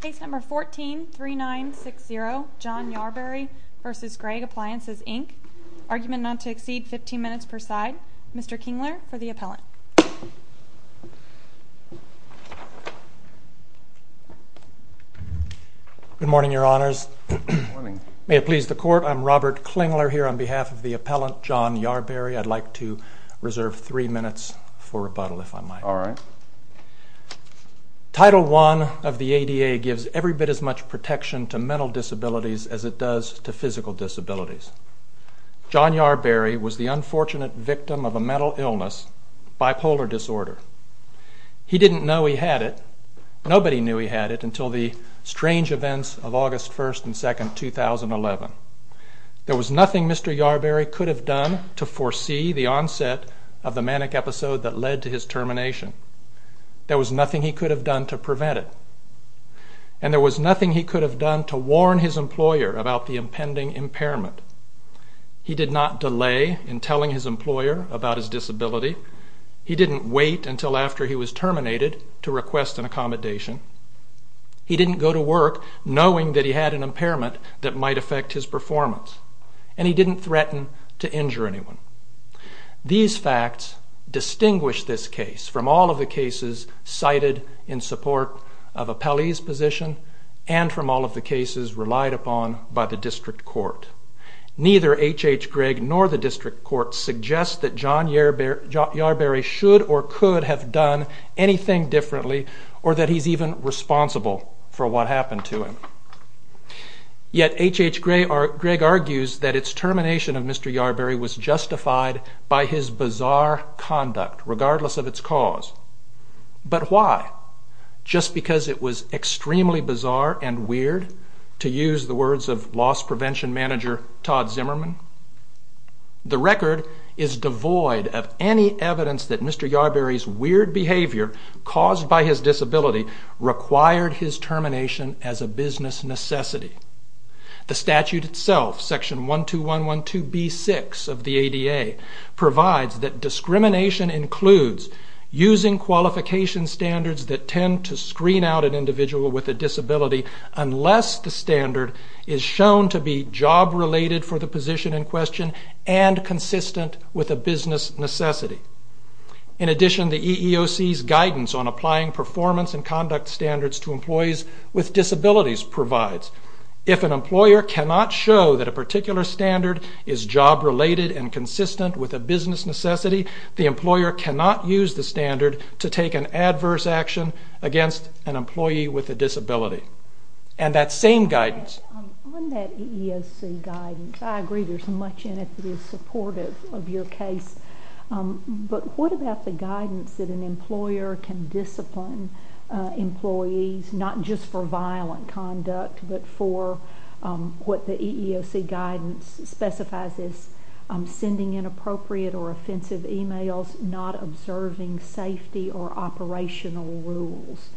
Case No. 14-3960 John Yarberry v. Gregg Appliances Inc. Argument not to exceed 15 minutes per side. Mr. Klingler for the appellant. Good morning, your honors. May it please the court. I'm Robert Klingler here on behalf of the appellant John Yarberry. I'd like to reserve three minutes for rebuttal, if I might. Title I of the ADA gives every bit as much protection to mental disabilities as it does to physical disabilities. John Yarberry was the unfortunate victim of a mental illness, bipolar disorder. He didn't know he had it. Nobody knew he had it until the strange events of August 1st and 2nd, 2011. There was nothing Mr. Yarberry could have done to foresee the onset of the manic episode that led to his termination. There was nothing he could have done to prevent it. And there was nothing he could have done to warn his employer about the impending impairment. He did not delay in telling his employer about his disability. He didn't wait until after he was terminated to request an accommodation. He didn't go to work knowing that he had an impairment that might affect his performance. And he didn't threaten to injure anyone. These facts distinguish this case from all of the cases cited in support of Appellee's position and from all of the cases relied upon by the district court. Neither H.H. Gregg nor the district court suggests that John Yarberry should or could have done anything differently or that he's even responsible for what happened to him. Yet H.H. Gregg argues that its termination of Mr. Yarberry was justified by his bizarre conduct, regardless of its cause. But why? Just because it was extremely bizarre and weird, to use the words of loss prevention manager Todd Zimmerman? The record is devoid of any evidence that Mr. Yarberry's weird behavior caused by his disability required his termination as a business necessity. The statute itself, section 12112B6 of the ADA, provides that discrimination includes using qualification standards that tend to screen out an individual with a disability unless the standard is shown to be job-related for the position in question and consistent with a business necessity. In addition, the EEOC's guidance on applying performance and conduct standards to employees with disabilities provides if an employer cannot show that a particular standard is job-related and consistent with a business necessity, the employer cannot use the standard to take an adverse action against an employee with a disability. And that same guidance... On that EEOC guidance, I agree there's much in it that is supportive of your case, but what about the guidance that an employer can discipline employees, not just for violent conduct, but for what the EEOC guidance specifies as sending inappropriate or offensive emails, not observing safety or operational rules?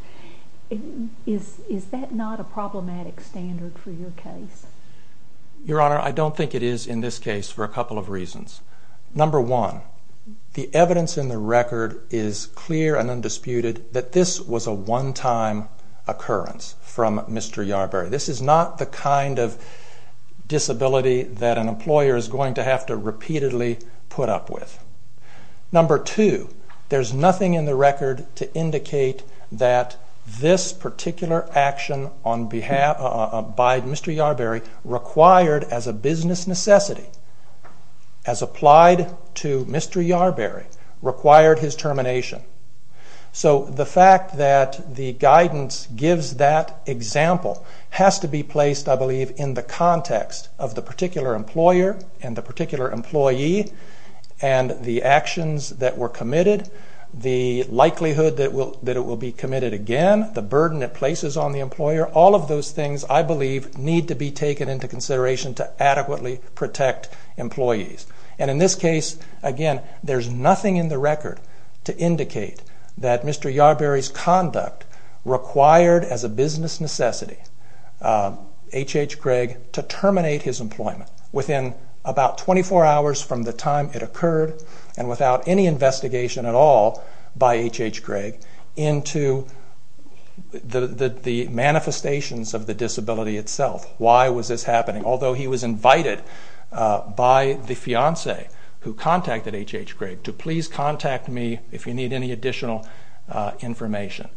Is that not a problematic standard for your case? Your Honor, I don't think it is in this case for a couple of reasons. Number one, the evidence in the record is clear and undisputed that this was a one-time occurrence from Mr. Yarberry. This is not the kind of disability that an employer is going to have to repeatedly put up with. Number two, there's nothing in the record to indicate that this particular action on behalf... by Mr. Yarberry required as a business necessity, as applied to Mr. Yarberry, required his termination. So the fact that the guidance gives that example has to be placed, I believe, in the context of the particular employer and the particular employee and the actions that were committed, the likelihood that it will be committed again, the burden it places on the employer. All of those things, I believe, need to be taken into consideration to adequately protect employees. And in this case, again, there's nothing in the record to indicate that Mr. Yarberry's conduct required as a business necessity H.H. Gregg to terminate his employment within about 24 hours from the time it occurred and without any investigation at all by H.H. Gregg into the manifestations of the disability itself. Why was this happening? Although he was invited by the fiancee who contacted H.H. Gregg to please contact me if you need any additional information.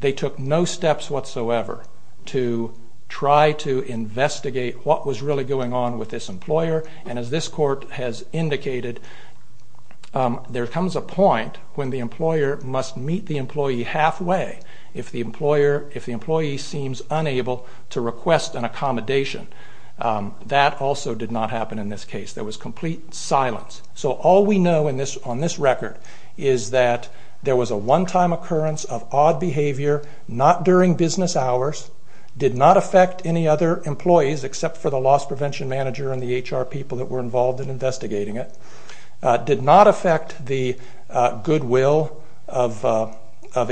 They took no steps whatsoever to try to investigate what was really going on with this employer and as this court has indicated, there comes a point when the employer must meet the employee halfway if the employee seems unable to request an accommodation. That also did not happen in this case. There was complete silence. So all we know on this record is that there was a one-time occurrence of odd behavior, not during business hours, did not affect any other employees except for the loss prevention manager and the HR people that were involved in investigating it, did not affect the goodwill of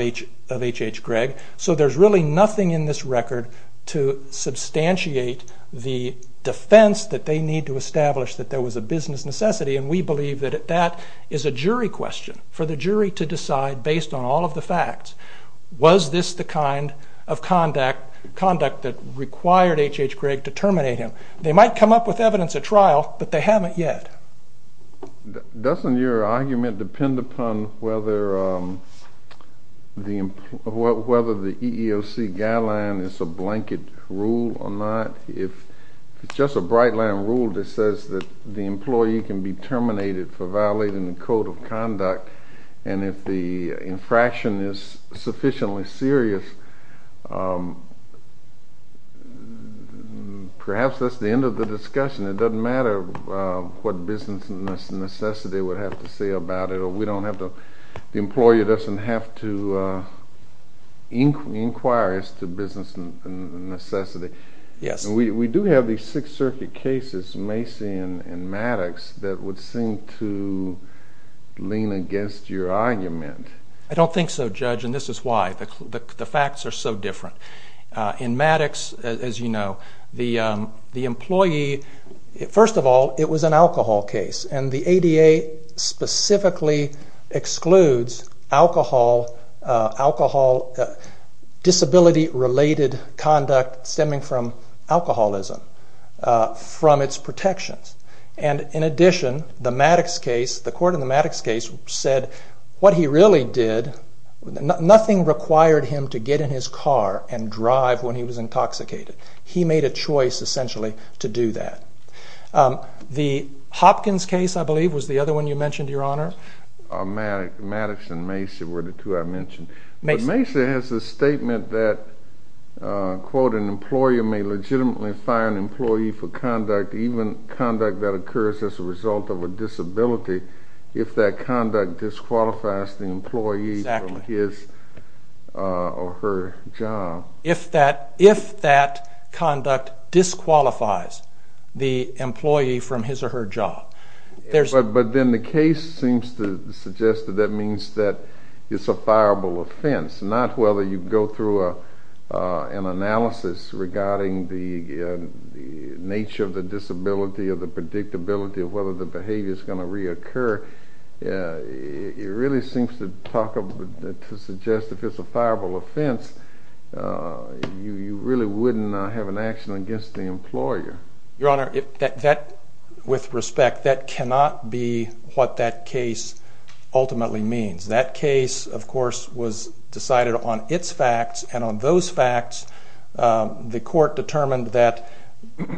H.H. Gregg. So there's really nothing in this record to substantiate the defense that they need to establish that there was a business necessity and we believe that that is a jury question. For the jury to decide based on all of the facts, was this the kind of conduct that required H.H. Gregg to terminate him? They might come up with evidence at trial, but they haven't yet. Doesn't your argument depend upon whether the EEOC guideline is a blanket rule or not? If it's just a bright line rule that says that the employee can be terminated for violating the code of conduct and if the infraction is sufficiently serious, perhaps that's the end of the discussion. It doesn't matter what business necessity would have to say about it. The employer doesn't have to inquire as to business necessity. We do have these Sixth Circuit cases, Macy and Maddox, that would seem to lean against your argument. I don't think so, Judge, and this is why. The facts are so different. In Maddox, as you know, the employee, first of all, it was an alcohol case and the ADA specifically excludes alcohol disability-related conduct stemming from alcoholism from its protections. In addition, the court in the Maddox case said that nothing required him to get in his car and drive when he was intoxicated. He made a choice, essentially, to do that. The Hopkins case, I believe, was the other one you mentioned, Your Honor. Maddox and Macy were the two I mentioned. Macy has a statement that, quote, an employer may legitimately fire an employee for conduct, even conduct that occurs as a result of a disability, if that conduct disqualifies the employee from his or her job. If that conduct disqualifies the employee from his or her job. But then the case seems to suggest that that means that it's a fireable offense, not whether you go through an analysis regarding the nature of the disability or the predictability of whether the behavior is going to reoccur. It really seems to suggest if it's a fireable offense, you really wouldn't have an action against the employer. Your Honor, with respect, that cannot be what that case ultimately means. That case, of course, was decided on its facts, and on those facts, the court determined that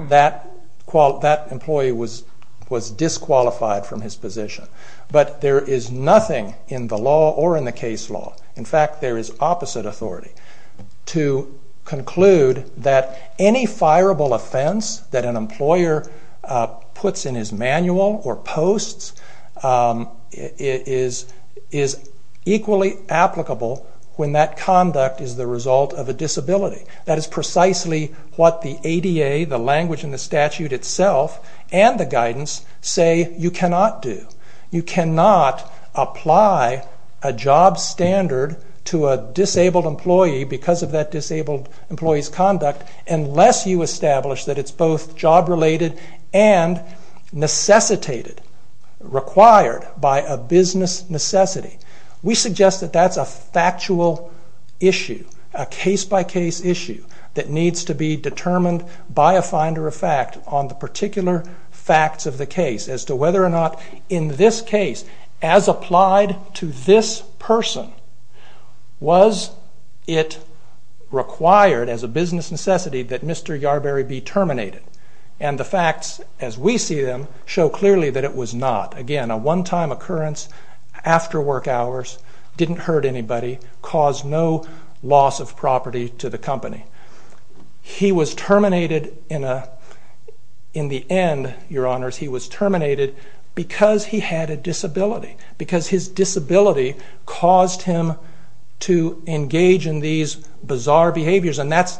that employee was disqualified from his position. But there is nothing in the law or in the case law, in fact, there is opposite authority, to conclude that any fireable offense that an employer puts in his manual or posts is equally applicable when that conduct is the result of a disability. That is precisely what the ADA, the language in the statute itself, and the guidance say you cannot do. You cannot apply a job standard to a disabled employee because of that disabled employee's conduct unless you establish that it's both job-related and necessitated, required by a business necessity. We suggest that that's a factual issue, a case-by-case issue, that needs to be determined by a finder of fact on the particular facts of the case as to whether or not in this case, as applied to this person, was it required as a business necessity that Mr. Yarberry be terminated. And the facts, as we see them, show clearly that it was not. Again, a one-time occurrence, after work hours, didn't hurt anybody, caused no loss of property to the company. He was terminated in the end, your honors, he was terminated because he had a disability, because his disability caused him to engage in these bizarre behaviors, and that's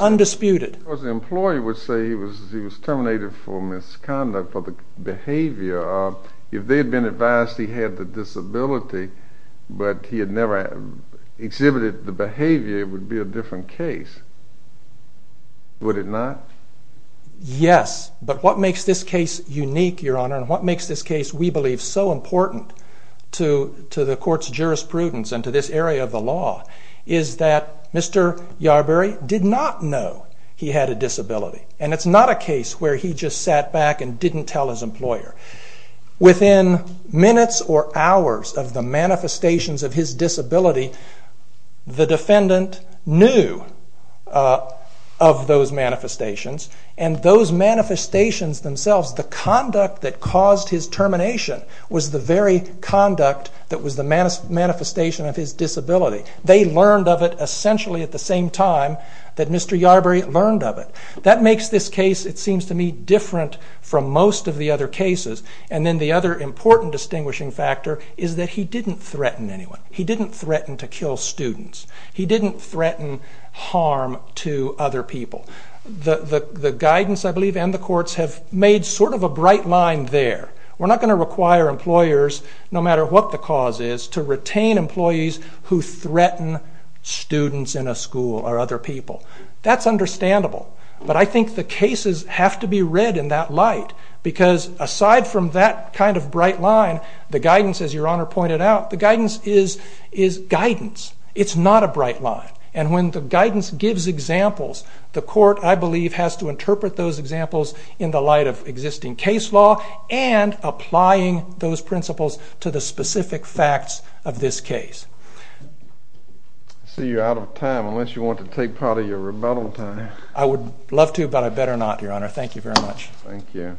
undisputed. Of course the employee would say he was terminated for misconduct, for the behavior. If they had been advised he had the disability, but he had never exhibited the behavior, it would be a different case, would it not? Yes, but what makes this case unique, your honor, and what makes this case, we believe, so important to the court's jurisprudence and to this area of the law, is that Mr. Yarberry did not know he had a disability, and it's not a case where he just sat back and didn't tell his employer. Within minutes or hours of the manifestations of his disability, the defendant knew of those manifestations, and those manifestations themselves, the conduct that caused his termination, was the very conduct that was the manifestation of his disability. They learned of it essentially at the same time that Mr. Yarberry learned of it. That makes this case, it seems to me, different from most of the other cases, and then the other important distinguishing factor is that he didn't threaten anyone. He didn't threaten to kill students. He didn't threaten harm to other people. The guidance, I believe, and the courts have made sort of a bright line there. We're not going to require employers, no matter what the cause is, to retain employees who threaten students in a school or other people. That's understandable, but I think the cases have to be read in that light, because aside from that kind of bright line, the guidance, as your honor pointed out, the guidance is guidance. It's not a bright line, and when the guidance gives examples, the court, I believe, has to interpret those examples in the light of existing case law and applying those principles to the specific facts of this case. I see you're out of time, unless you want to take part of your rebuttal time. I would love to, but I better not, your honor. Thank you very much. Thank you.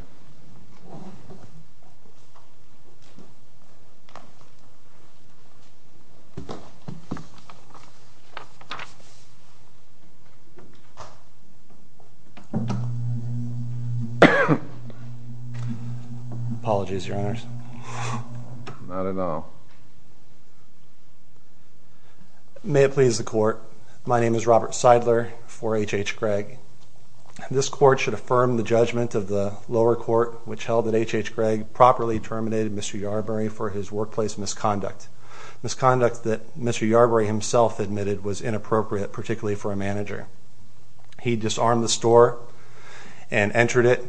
Apologies, your honors. Not at all. May it please the court, my name is Robert Seidler for H.H. Gregg. This court should affirm the judgment of the lower court, which held that H.H. Gregg properly terminated Mr. Yarbrough for his workplace misconduct, misconduct that Mr. Yarbrough himself admitted was inappropriate, particularly for a manager. He disarmed the store and entered it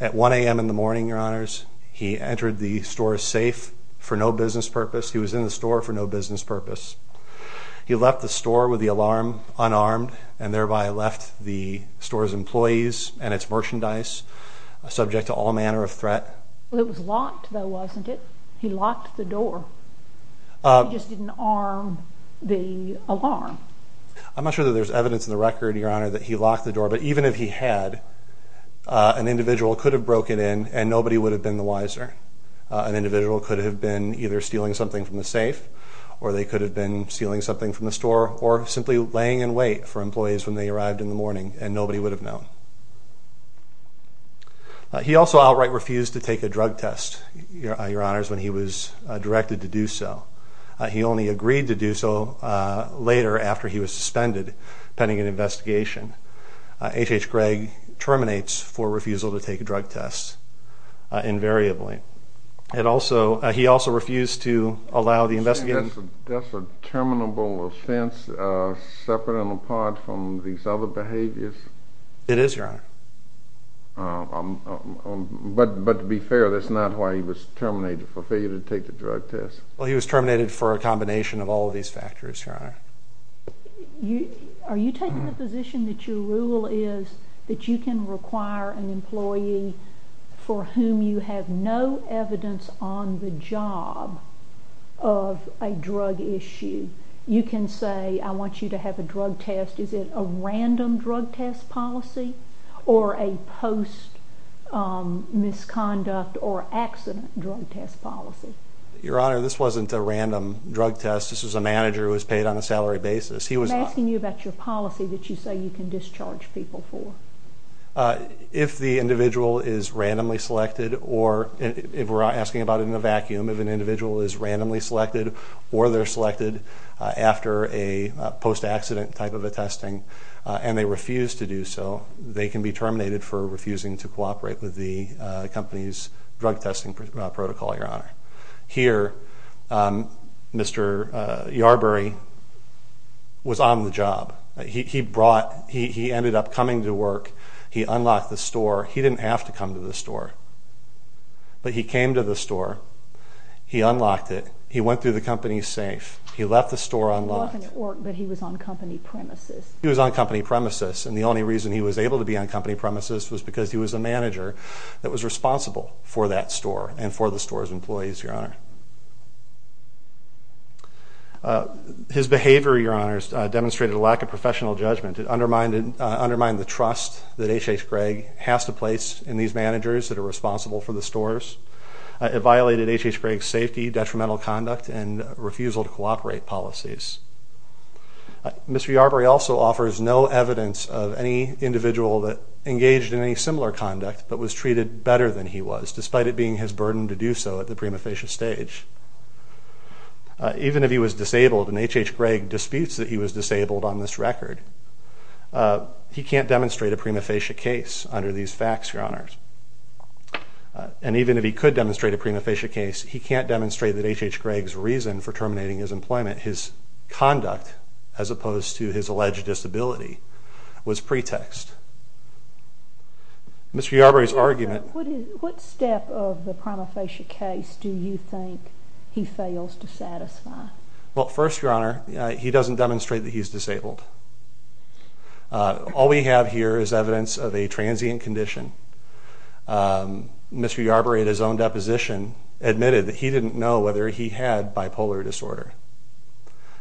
at 1 a.m. in the morning, your honors. He entered the store safe for no business purpose. He was in the store for no business purpose. He left the store with the alarm unarmed and thereby left the store's employees and its merchandise subject to all manner of threat. It was locked, though, wasn't it? He locked the door. He just didn't arm the alarm. I'm not sure that there's evidence in the record, your honor, that he locked the door, but even if he had, an individual could have broken in and nobody would have been the wiser. An individual could have been either stealing something from the safe or they could have been stealing something from the store or simply laying in wait for employees when they arrived in the morning and nobody would have known. He also outright refused to take a drug test, your honors, when he was directed to do so. He only agreed to do so later after he was suspended pending an investigation. H.H. Gregg terminates for refusal to take a drug test invariably. He also refused to allow the investigation. That's a terminable offense separate and apart from these other behaviors? It is, your honor. But to be fair, that's not why he was terminated, for failure to take the drug test. Well, he was terminated for a combination of all of these factors, your honor. Are you taking the position that your rule is that you can require an employee for whom you have no evidence on the job of a drug issue? You can say, I want you to have a drug test. Is it a random drug test policy or a post-misconduct or accident drug test policy? Your honor, this wasn't a random drug test. This was a manager who was paid on a salary basis. I'm asking you about your policy that you say you can discharge people for. If the individual is randomly selected or, if we're asking about it in a vacuum, if an individual is randomly selected or they're selected after a post-accident type of a testing and they refuse to do so, they can be terminated for refusing to cooperate with the company's drug testing protocol, your honor. Here, Mr. Yarbury was on the job. He ended up coming to work. He unlocked the store. He didn't have to come to the store, but he came to the store. He unlocked it. He went through the company safe. He left the store unlocked. He wasn't at work, but he was on company premises. He was on company premises, and the only reason he was able to be on company premises was because he was a manager that was responsible for that store and for the store's employees, your honor. His behavior, your honor, demonstrated a lack of professional judgment. It undermined the trust that H.H. Gregg has to place in these managers that are responsible for the stores. It violated H.H. Gregg's safety, detrimental conduct, and refusal to cooperate policies. Mr. Yarbury also offers no evidence of any individual that engaged in any similar conduct but was treated better than he was, despite it being his burden to do so at the prima facie stage. Even if he was disabled, and H.H. Gregg disputes that he was disabled on this record, he can't demonstrate a prima facie case under these facts, your honors. And even if he could demonstrate a prima facie case, he can't demonstrate that H.H. Gregg's reason for terminating his employment, his conduct as opposed to his alleged disability, was pretext. Mr. Yarbury's argument... What step of the prima facie case do you think he fails to satisfy? Well, first, your honor, he doesn't demonstrate that he's disabled. All we have here is evidence of a transient condition. Mr. Yarbury, at his own deposition, admitted that he didn't know whether he had bipolar disorder.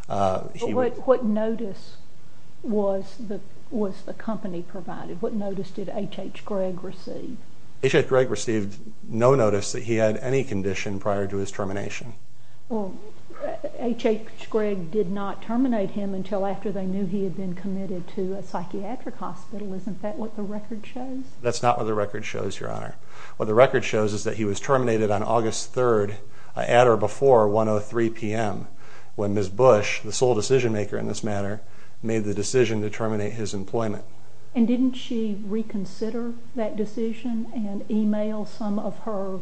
What notice was the company provided? What notice did H.H. Gregg receive? H.H. Gregg received no notice that he had any condition prior to his termination. Well, H.H. Gregg did not terminate him until after they knew he had been committed to a psychiatric hospital. Isn't that what the record shows? That's not what the record shows, your honor. What the record shows is that he was terminated on August 3rd, at or before 1.03 p.m., when Ms. Bush, the sole decision maker in this matter, made the decision to terminate his employment. And didn't she reconsider that decision and email some of her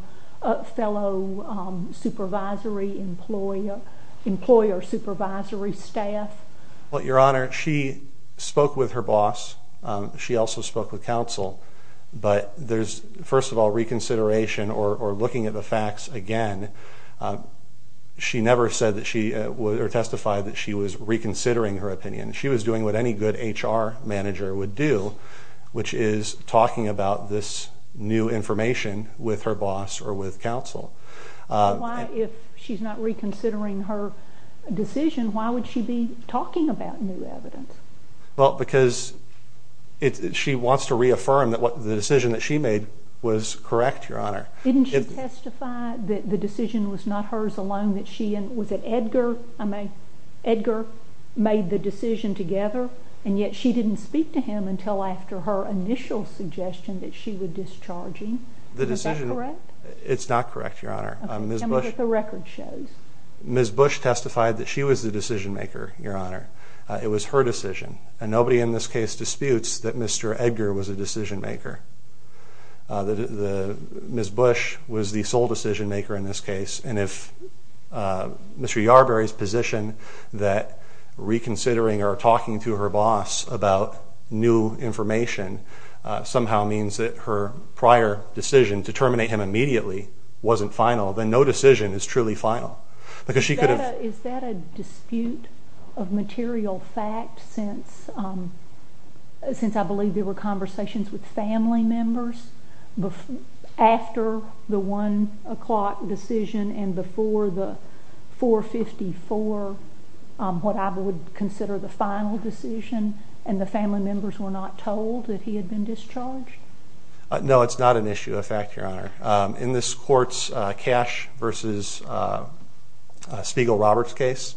fellow supervisory, employer supervisory staff? Well, your honor, she spoke with her boss. She also spoke with counsel. But there's, first of all, reconsideration or looking at the facts again. She never said that she, or testified that she was reconsidering her opinion. She was doing what any good H.R. manager would do, which is talking about this new information with her boss or with counsel. Why, if she's not reconsidering her decision, why would she be talking about new evidence? Well, because she wants to reaffirm that the decision that she made was correct, your honor. Didn't she testify that the decision was not hers alone, that she and, was it Edgar? I mean, Edgar made the decision together, and yet she didn't speak to him until after her initial suggestion that she would discharge him. Is that correct? It's not correct, your honor. Tell me what the record shows. Ms. Bush testified that she was the decision maker, your honor. It was her decision, and nobody in this case disputes that Mr. Edgar was a decision maker. Ms. Bush was the sole decision maker in this case, and if Mr. Yarberry's position that reconsidering or talking to her boss about new information somehow means that her prior decision to terminate him immediately wasn't final, then no decision is truly final. Is that a dispute of material fact since I believe there were conversations with family members after the 1 o'clock decision and before the 4.54, what I would consider the final decision, and the family members were not told that he had been discharged? No, it's not an issue of fact, your honor. In this court's Cash v. Spiegel-Roberts case,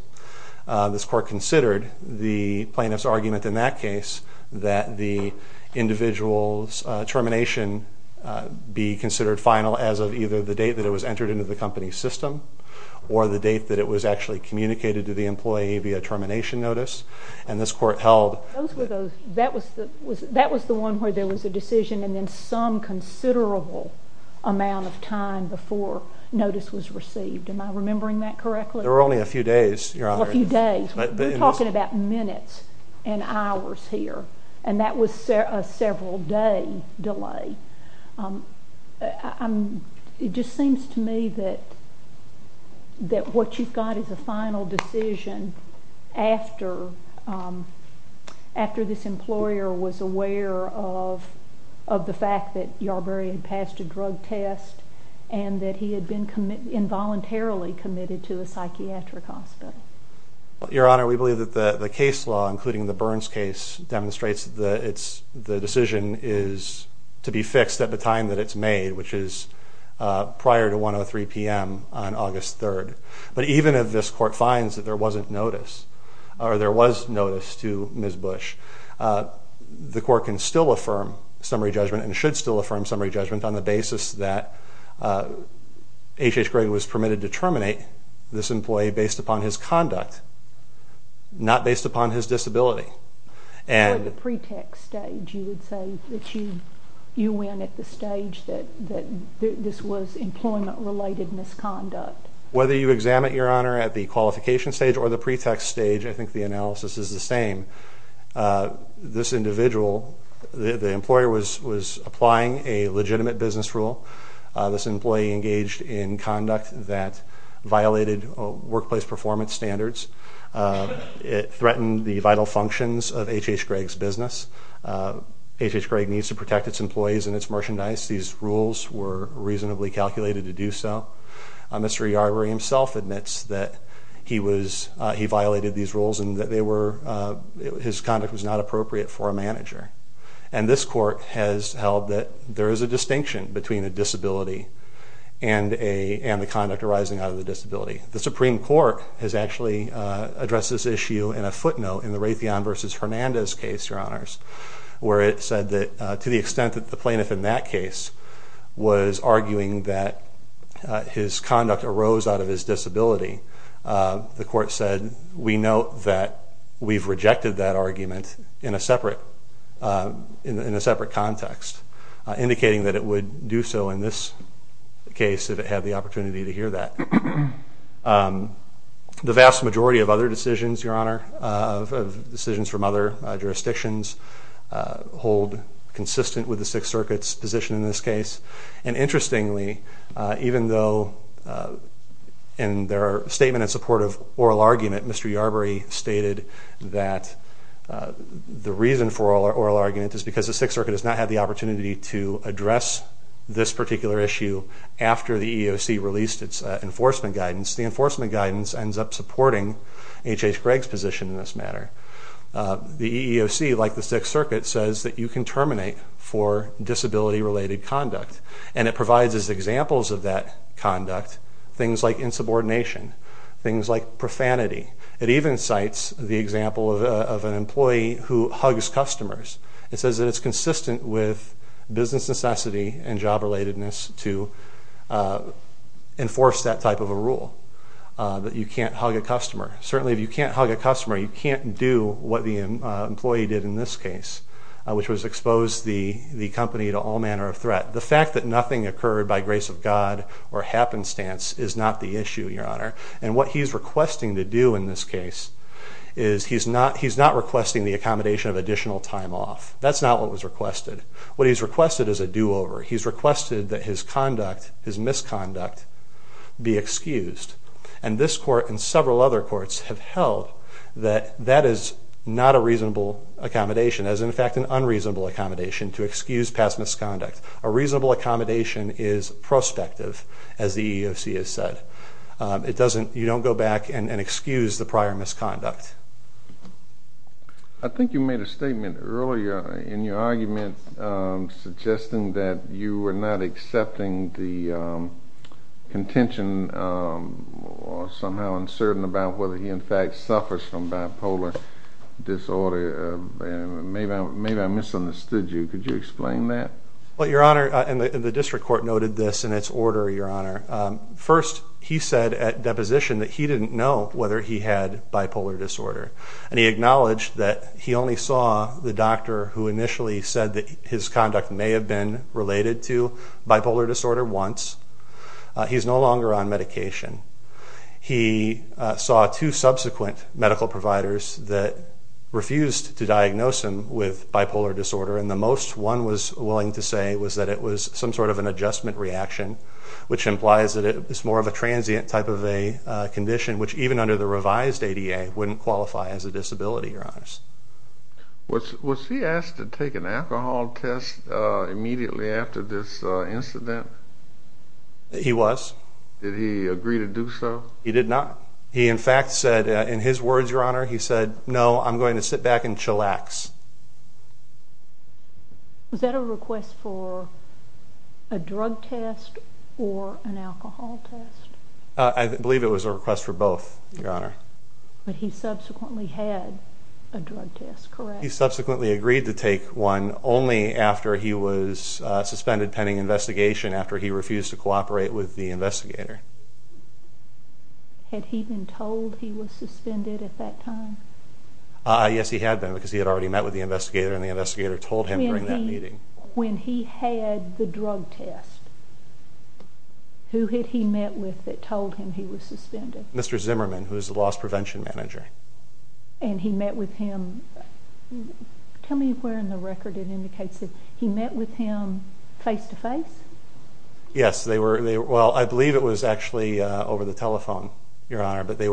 this court considered the plaintiff's argument in that case that the individual's termination be considered final as of either the date that it was entered into the company's system or the date that it was actually communicated to the employee via termination notice, and this court held... Those were those. That was the one where there was a decision and then some considerable amount of time before notice was received. Am I remembering that correctly? There were only a few days, your honor. A few days. We're talking about minutes and hours here, and that was a several-day delay. It just seems to me that what you've got is a final decision after this employer was aware of the fact that Yarbarian passed a drug test and that he had been involuntarily committed to a psychiatric hospital. Your honor, we believe that the case law, including the Burns case, demonstrates that the decision is to be fixed at the time that it's made, which is prior to 1.03 p.m. on August 3rd. But even if this court finds that there wasn't notice or there was notice to Ms. Bush, the court can still affirm summary judgment and should still affirm summary judgment on the basis that H.H. Gregg was permitted to terminate this employee based upon his conduct, not based upon his disability. Or the pretext stage, you would say, that you went at the stage that this was employment-related misconduct. Whether you examine it, your honor, at the qualification stage or the pretext stage, I think the analysis is the same. This individual, the employer, was applying a legitimate business rule. This employee engaged in conduct that violated workplace performance standards. It threatened the vital functions of H.H. Gregg's business. H.H. Gregg needs to protect its employees and its merchandise. These rules were reasonably calculated to do so. Mr. Yarbarian himself admits that he violated these rules and that his conduct was not appropriate for a manager. And this court has held that there is a distinction between a disability and the conduct arising out of the disability. The Supreme Court has actually addressed this issue in a footnote in the Raytheon v. Hernandez case, your honors, where it said that to the extent that the plaintiff in that case was arguing that his conduct arose out of his disability, the court said, we note that we've rejected that argument in a separate context, indicating that it would do so in this case if it had the opportunity to hear that. The vast majority of other decisions, your honor, of decisions from other jurisdictions, hold consistent with the Sixth Circuit's position in this case. And interestingly, even though in their statement in support of oral argument, Mr. Yarbarian stated that the reason for oral argument is because the Sixth Circuit has not had the opportunity to address this particular issue after the EEOC released its enforcement guidance. The enforcement guidance ends up supporting H.H. Gregg's position in this matter. The EEOC, like the Sixth Circuit, says that you can terminate for disability-related conduct, and it provides as examples of that conduct things like insubordination, things like profanity. It even cites the example of an employee who hugs customers. It says that it's consistent with business necessity and job-relatedness to enforce that type of a rule, that you can't hug a customer. Certainly if you can't hug a customer, you can't do what the employee did in this case, which was expose the company to all manner of threat. The fact that nothing occurred by grace of God or happenstance is not the issue, Your Honor. And what he's requesting to do in this case is he's not requesting the accommodation of additional time off. That's not what was requested. What he's requested is a do-over. He's requested that his conduct, his misconduct, be excused. And this court and several other courts have held that that is not a reasonable accommodation. That is, in fact, an unreasonable accommodation to excuse past misconduct. A reasonable accommodation is prospective, as the EEOC has said. You don't go back and excuse the prior misconduct. I think you made a statement earlier in your argument suggesting that you were not accepting the contention, or somehow uncertain about whether he, in fact, suffers from bipolar disorder. Maybe I misunderstood you. Could you explain that? Well, Your Honor, and the district court noted this in its order, Your Honor. First, he said at deposition that he didn't know whether he had bipolar disorder. And he acknowledged that he only saw the doctor who initially said that his conduct may have been related to bipolar disorder once. He's no longer on medication. He saw two subsequent medical providers that refused to diagnose him with bipolar disorder, and the most one was willing to say was that it was some sort of an adjustment reaction, which implies that it's more of a transient type of a condition, which even under the revised ADA wouldn't qualify as a disability, Your Honors. Was he asked to take an alcohol test immediately after this incident? He was. Did he agree to do so? He did not. He, in fact, said in his words, Your Honor, he said, No, I'm going to sit back and chillax. Was that a request for a drug test or an alcohol test? I believe it was a request for both, Your Honor. But he subsequently had a drug test, correct? He subsequently agreed to take one only after he was suspended pending investigation, after he refused to cooperate with the investigator. Had he been told he was suspended at that time? Yes, he had been because he had already met with the investigator, and the investigator told him during that meeting. When he had the drug test, who had he met with that told him he was suspended? Mr. Zimmerman, who is the loss prevention manager. And he met with him. Tell me where in the record it indicates that he met with him face-to-face? Yes. Well, I believe it was actually over the telephone, Your Honor, but they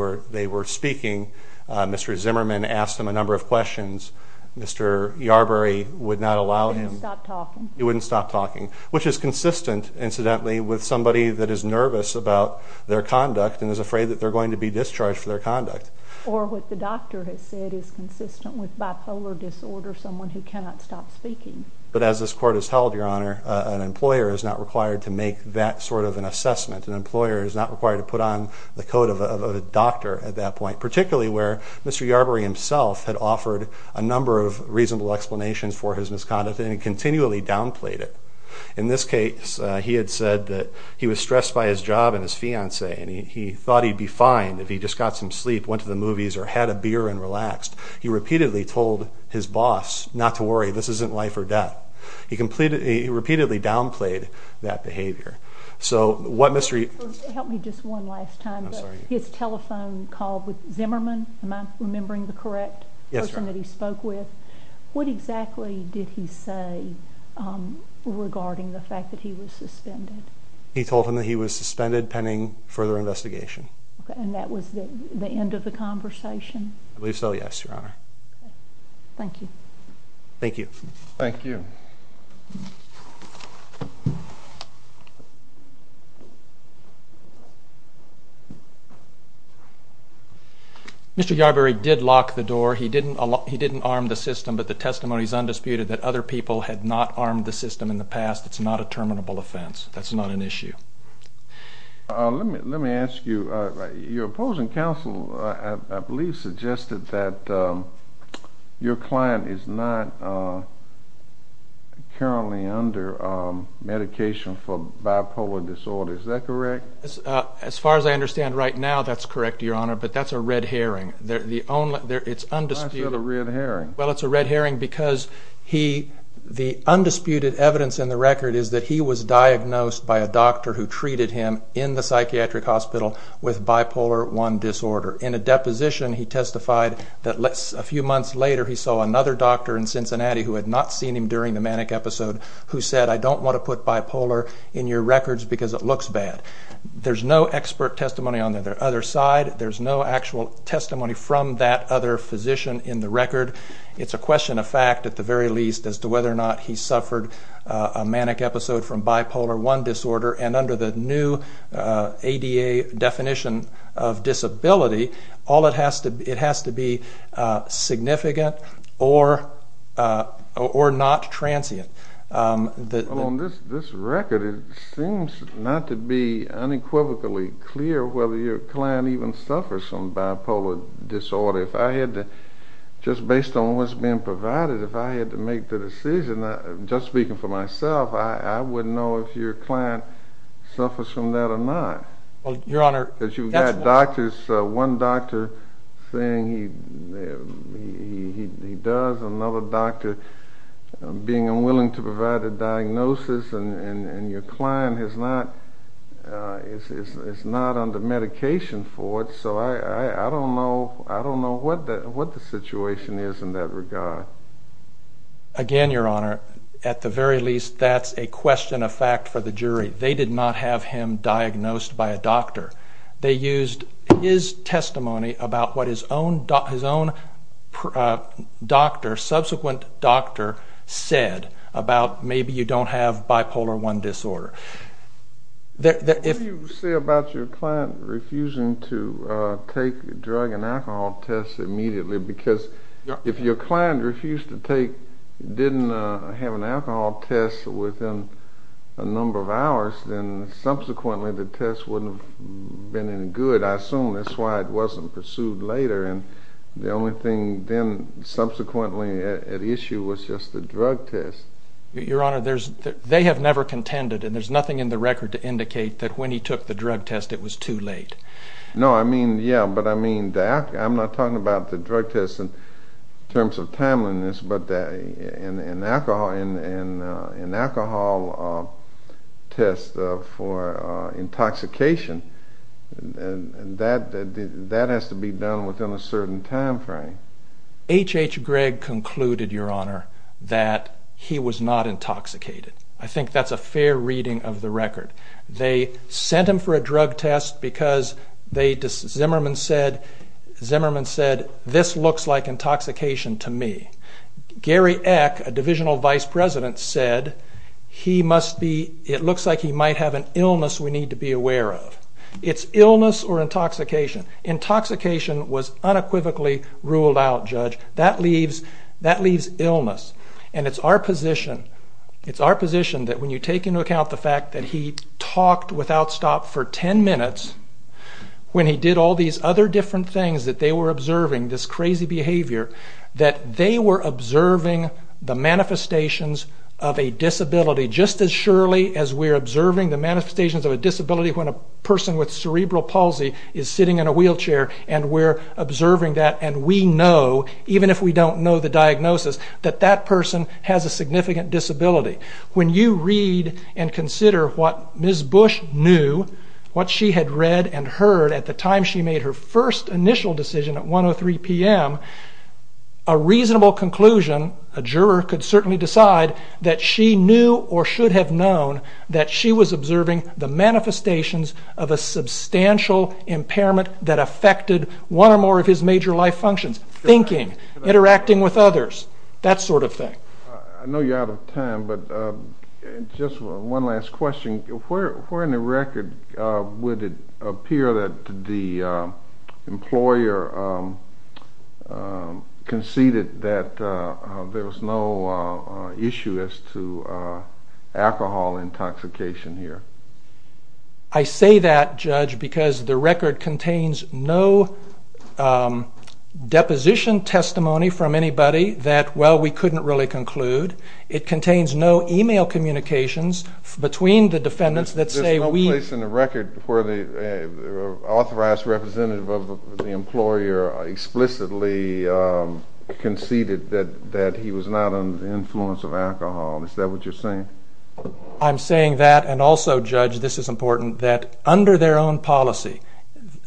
were speaking. Mr. Zimmerman asked him a number of questions. Mr. Yarbury would not allow him. He wouldn't stop talking. He wouldn't stop talking, which is consistent, incidentally, with somebody that is nervous about their conduct and is afraid that they're going to be discharged for their conduct. Or what the doctor has said is consistent with bipolar disorder, someone who cannot stop speaking. But as this Court has held, Your Honor, an employer is not required to make that sort of an assessment. An employer is not required to put on the coat of a doctor at that point, particularly where Mr. Yarbury himself had offered a number of reasonable explanations for his misconduct and continually downplayed it. In this case, he had said that he was stressed by his job and his fiancée and he thought he'd be fine if he just got some sleep, went to the movies, or had a beer and relaxed. He repeatedly told his boss not to worry, this isn't life or death. He repeatedly downplayed that behavior. So what Mr. Yarbury... Help me just one last time. His telephone call with Zimmerman, am I remembering the correct person that he spoke with? Yes, Your Honor. What exactly did he say regarding the fact that he was suspended? He told him that he was suspended pending further investigation. And that was the end of the conversation? I believe so, yes, Your Honor. Thank you. Thank you. Thank you. Mr. Yarbury did lock the door. He didn't arm the system, but the testimony is undisputed that other people had not armed the system in the past. It's not a terminable offense. That's not an issue. Let me ask you, your opposing counsel, I believe, suggested that your client is not currently under medication for bipolar disorder. Is that correct? As far as I understand right now, that's correct, Your Honor, but that's a red herring. It's undisputed. Why is it a red herring? Well, it's a red herring because the undisputed evidence in the record is that he was diagnosed by a doctor who treated him in the psychiatric hospital with bipolar I disorder. In a deposition, he testified that a few months later he saw another doctor in Cincinnati who had not seen him during the manic episode who said, I don't want to put bipolar in your records because it looks bad. There's no expert testimony on the other side. There's no actual testimony from that other physician in the record. It's a question of fact at the very least as to whether or not he suffered a manic episode from bipolar I disorder, and under the new ADA definition of disability, it has to be significant or not transient. On this record, it seems not to be unequivocally clear whether your client even suffers from bipolar disorder. If I had to, just based on what's been provided, if I had to make the decision, just speaking for myself, I wouldn't know if your client suffers from that or not. Your Honor. Because you've got doctors, one doctor saying he does, another doctor being unwilling to provide a diagnosis, and your client is not under medication for it, so I don't know what the situation is in that regard. Again, Your Honor, at the very least, that's a question of fact for the jury. They did not have him diagnosed by a doctor. They used his testimony about what his own doctor, subsequent doctor, said about maybe you don't have bipolar I disorder. What do you say about your client refusing to take a drug and alcohol test immediately? Because if your client refused to take, didn't have an alcohol test within a number of hours, then subsequently the test wouldn't have been any good. I assume that's why it wasn't pursued later, and the only thing then subsequently at issue was just the drug test. Your Honor, they have never contended, and there's nothing in the record to indicate that when he took the drug test it was too late. No, I mean, yeah, but I mean, I'm not talking about the drug test in terms of timeliness, but an alcohol test for intoxication, that has to be done within a certain time frame. H.H. Gregg concluded, Your Honor, that he was not intoxicated. I think that's a fair reading of the record. They sent him for a drug test because Zimmerman said, this looks like intoxication to me. Gary Eck, a divisional vice president, said, it looks like he might have an illness we need to be aware of. It's illness or intoxication. Intoxication was unequivocally ruled out, Judge. That leaves illness, and it's our position that when you take into account the fact that he talked without stop for ten minutes, when he did all these other different things that they were observing, this crazy behavior, that they were observing the manifestations of a disability, just as surely as we're observing the manifestations of a disability when a person with cerebral palsy is sitting in a wheelchair, and we're observing that, and we know, even if we don't know the diagnosis, that that person has a significant disability. When you read and consider what Ms. Bush knew, what she had read and heard at the time she made her first initial decision at 1.03 p.m., a reasonable conclusion, a juror could certainly decide, that she knew or should have known that she was observing the manifestations of a substantial impairment that affected one or more of his major life functions, thinking, interacting with others, that sort of thing. I know you're out of time, but just one last question. Where in the record would it appear that the employer conceded that there was no issue as to alcohol intoxication here? I say that, Judge, because the record contains no deposition testimony from anybody that, well, we couldn't really conclude. It contains no email communications between the defendants that say we... Is there no place in the record where the authorized representative of the employer explicitly conceded that he was not under the influence of alcohol? Is that what you're saying? I'm saying that, and also, Judge, this is important, that under their own policy,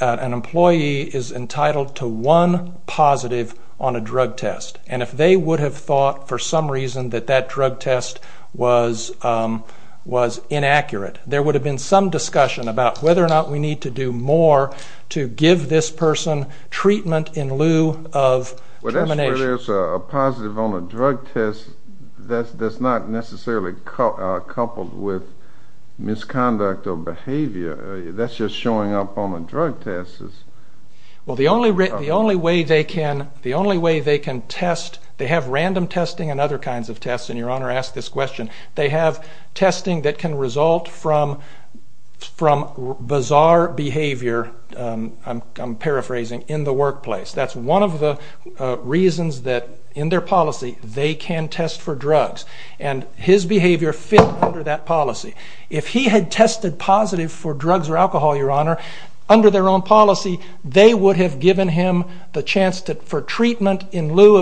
an employee is entitled to one positive on a drug test, and if they would have thought for some reason that that drug test was inaccurate, there would have been some discussion about whether or not we need to do more to give this person treatment in lieu of termination. Well, that's where there's a positive on a drug test that's not necessarily coupled with misconduct or behavior. That's just showing up on the drug test. Well, the only way they can test, they have random testing and other kinds of tests, and Your Honor asked this question. They have testing that can result from bizarre behavior, I'm paraphrasing, in the workplace. That's one of the reasons that in their policy they can test for drugs, and his behavior fit under that policy. If he had tested positive for drugs or alcohol, Your Honor, under their own policy, they would have given him the chance for treatment in lieu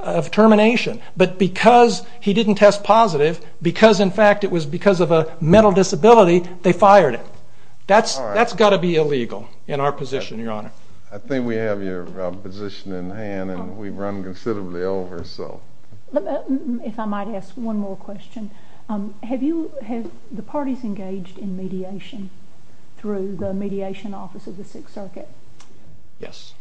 of termination. But because he didn't test positive, because, in fact, it was because of a mental disability, they fired him. That's got to be illegal in our position, Your Honor. I think we have your position in hand, and we've run considerably over. If I might ask one more question. Have the parties engaged in mediation through the Mediation Office of the Sixth Circuit? Yes.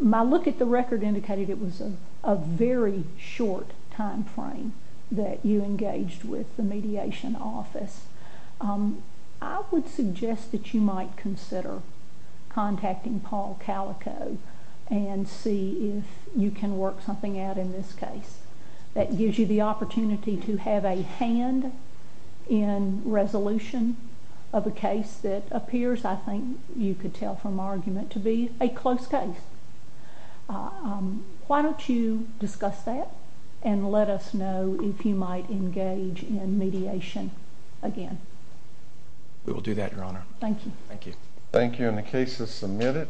My look at the record indicated it was a very short time frame that you engaged with the Mediation Office. I would suggest that you might consider contacting Paul Calico and see if you can work something out in this case. That gives you the opportunity to have a hand in resolution of a case that appears, I think you could tell from our argument, to be a close case. Why don't you discuss that and let us know if you might engage in mediation again. We will do that, Your Honor. Thank you. Thank you. Thank you. And the case is submitted.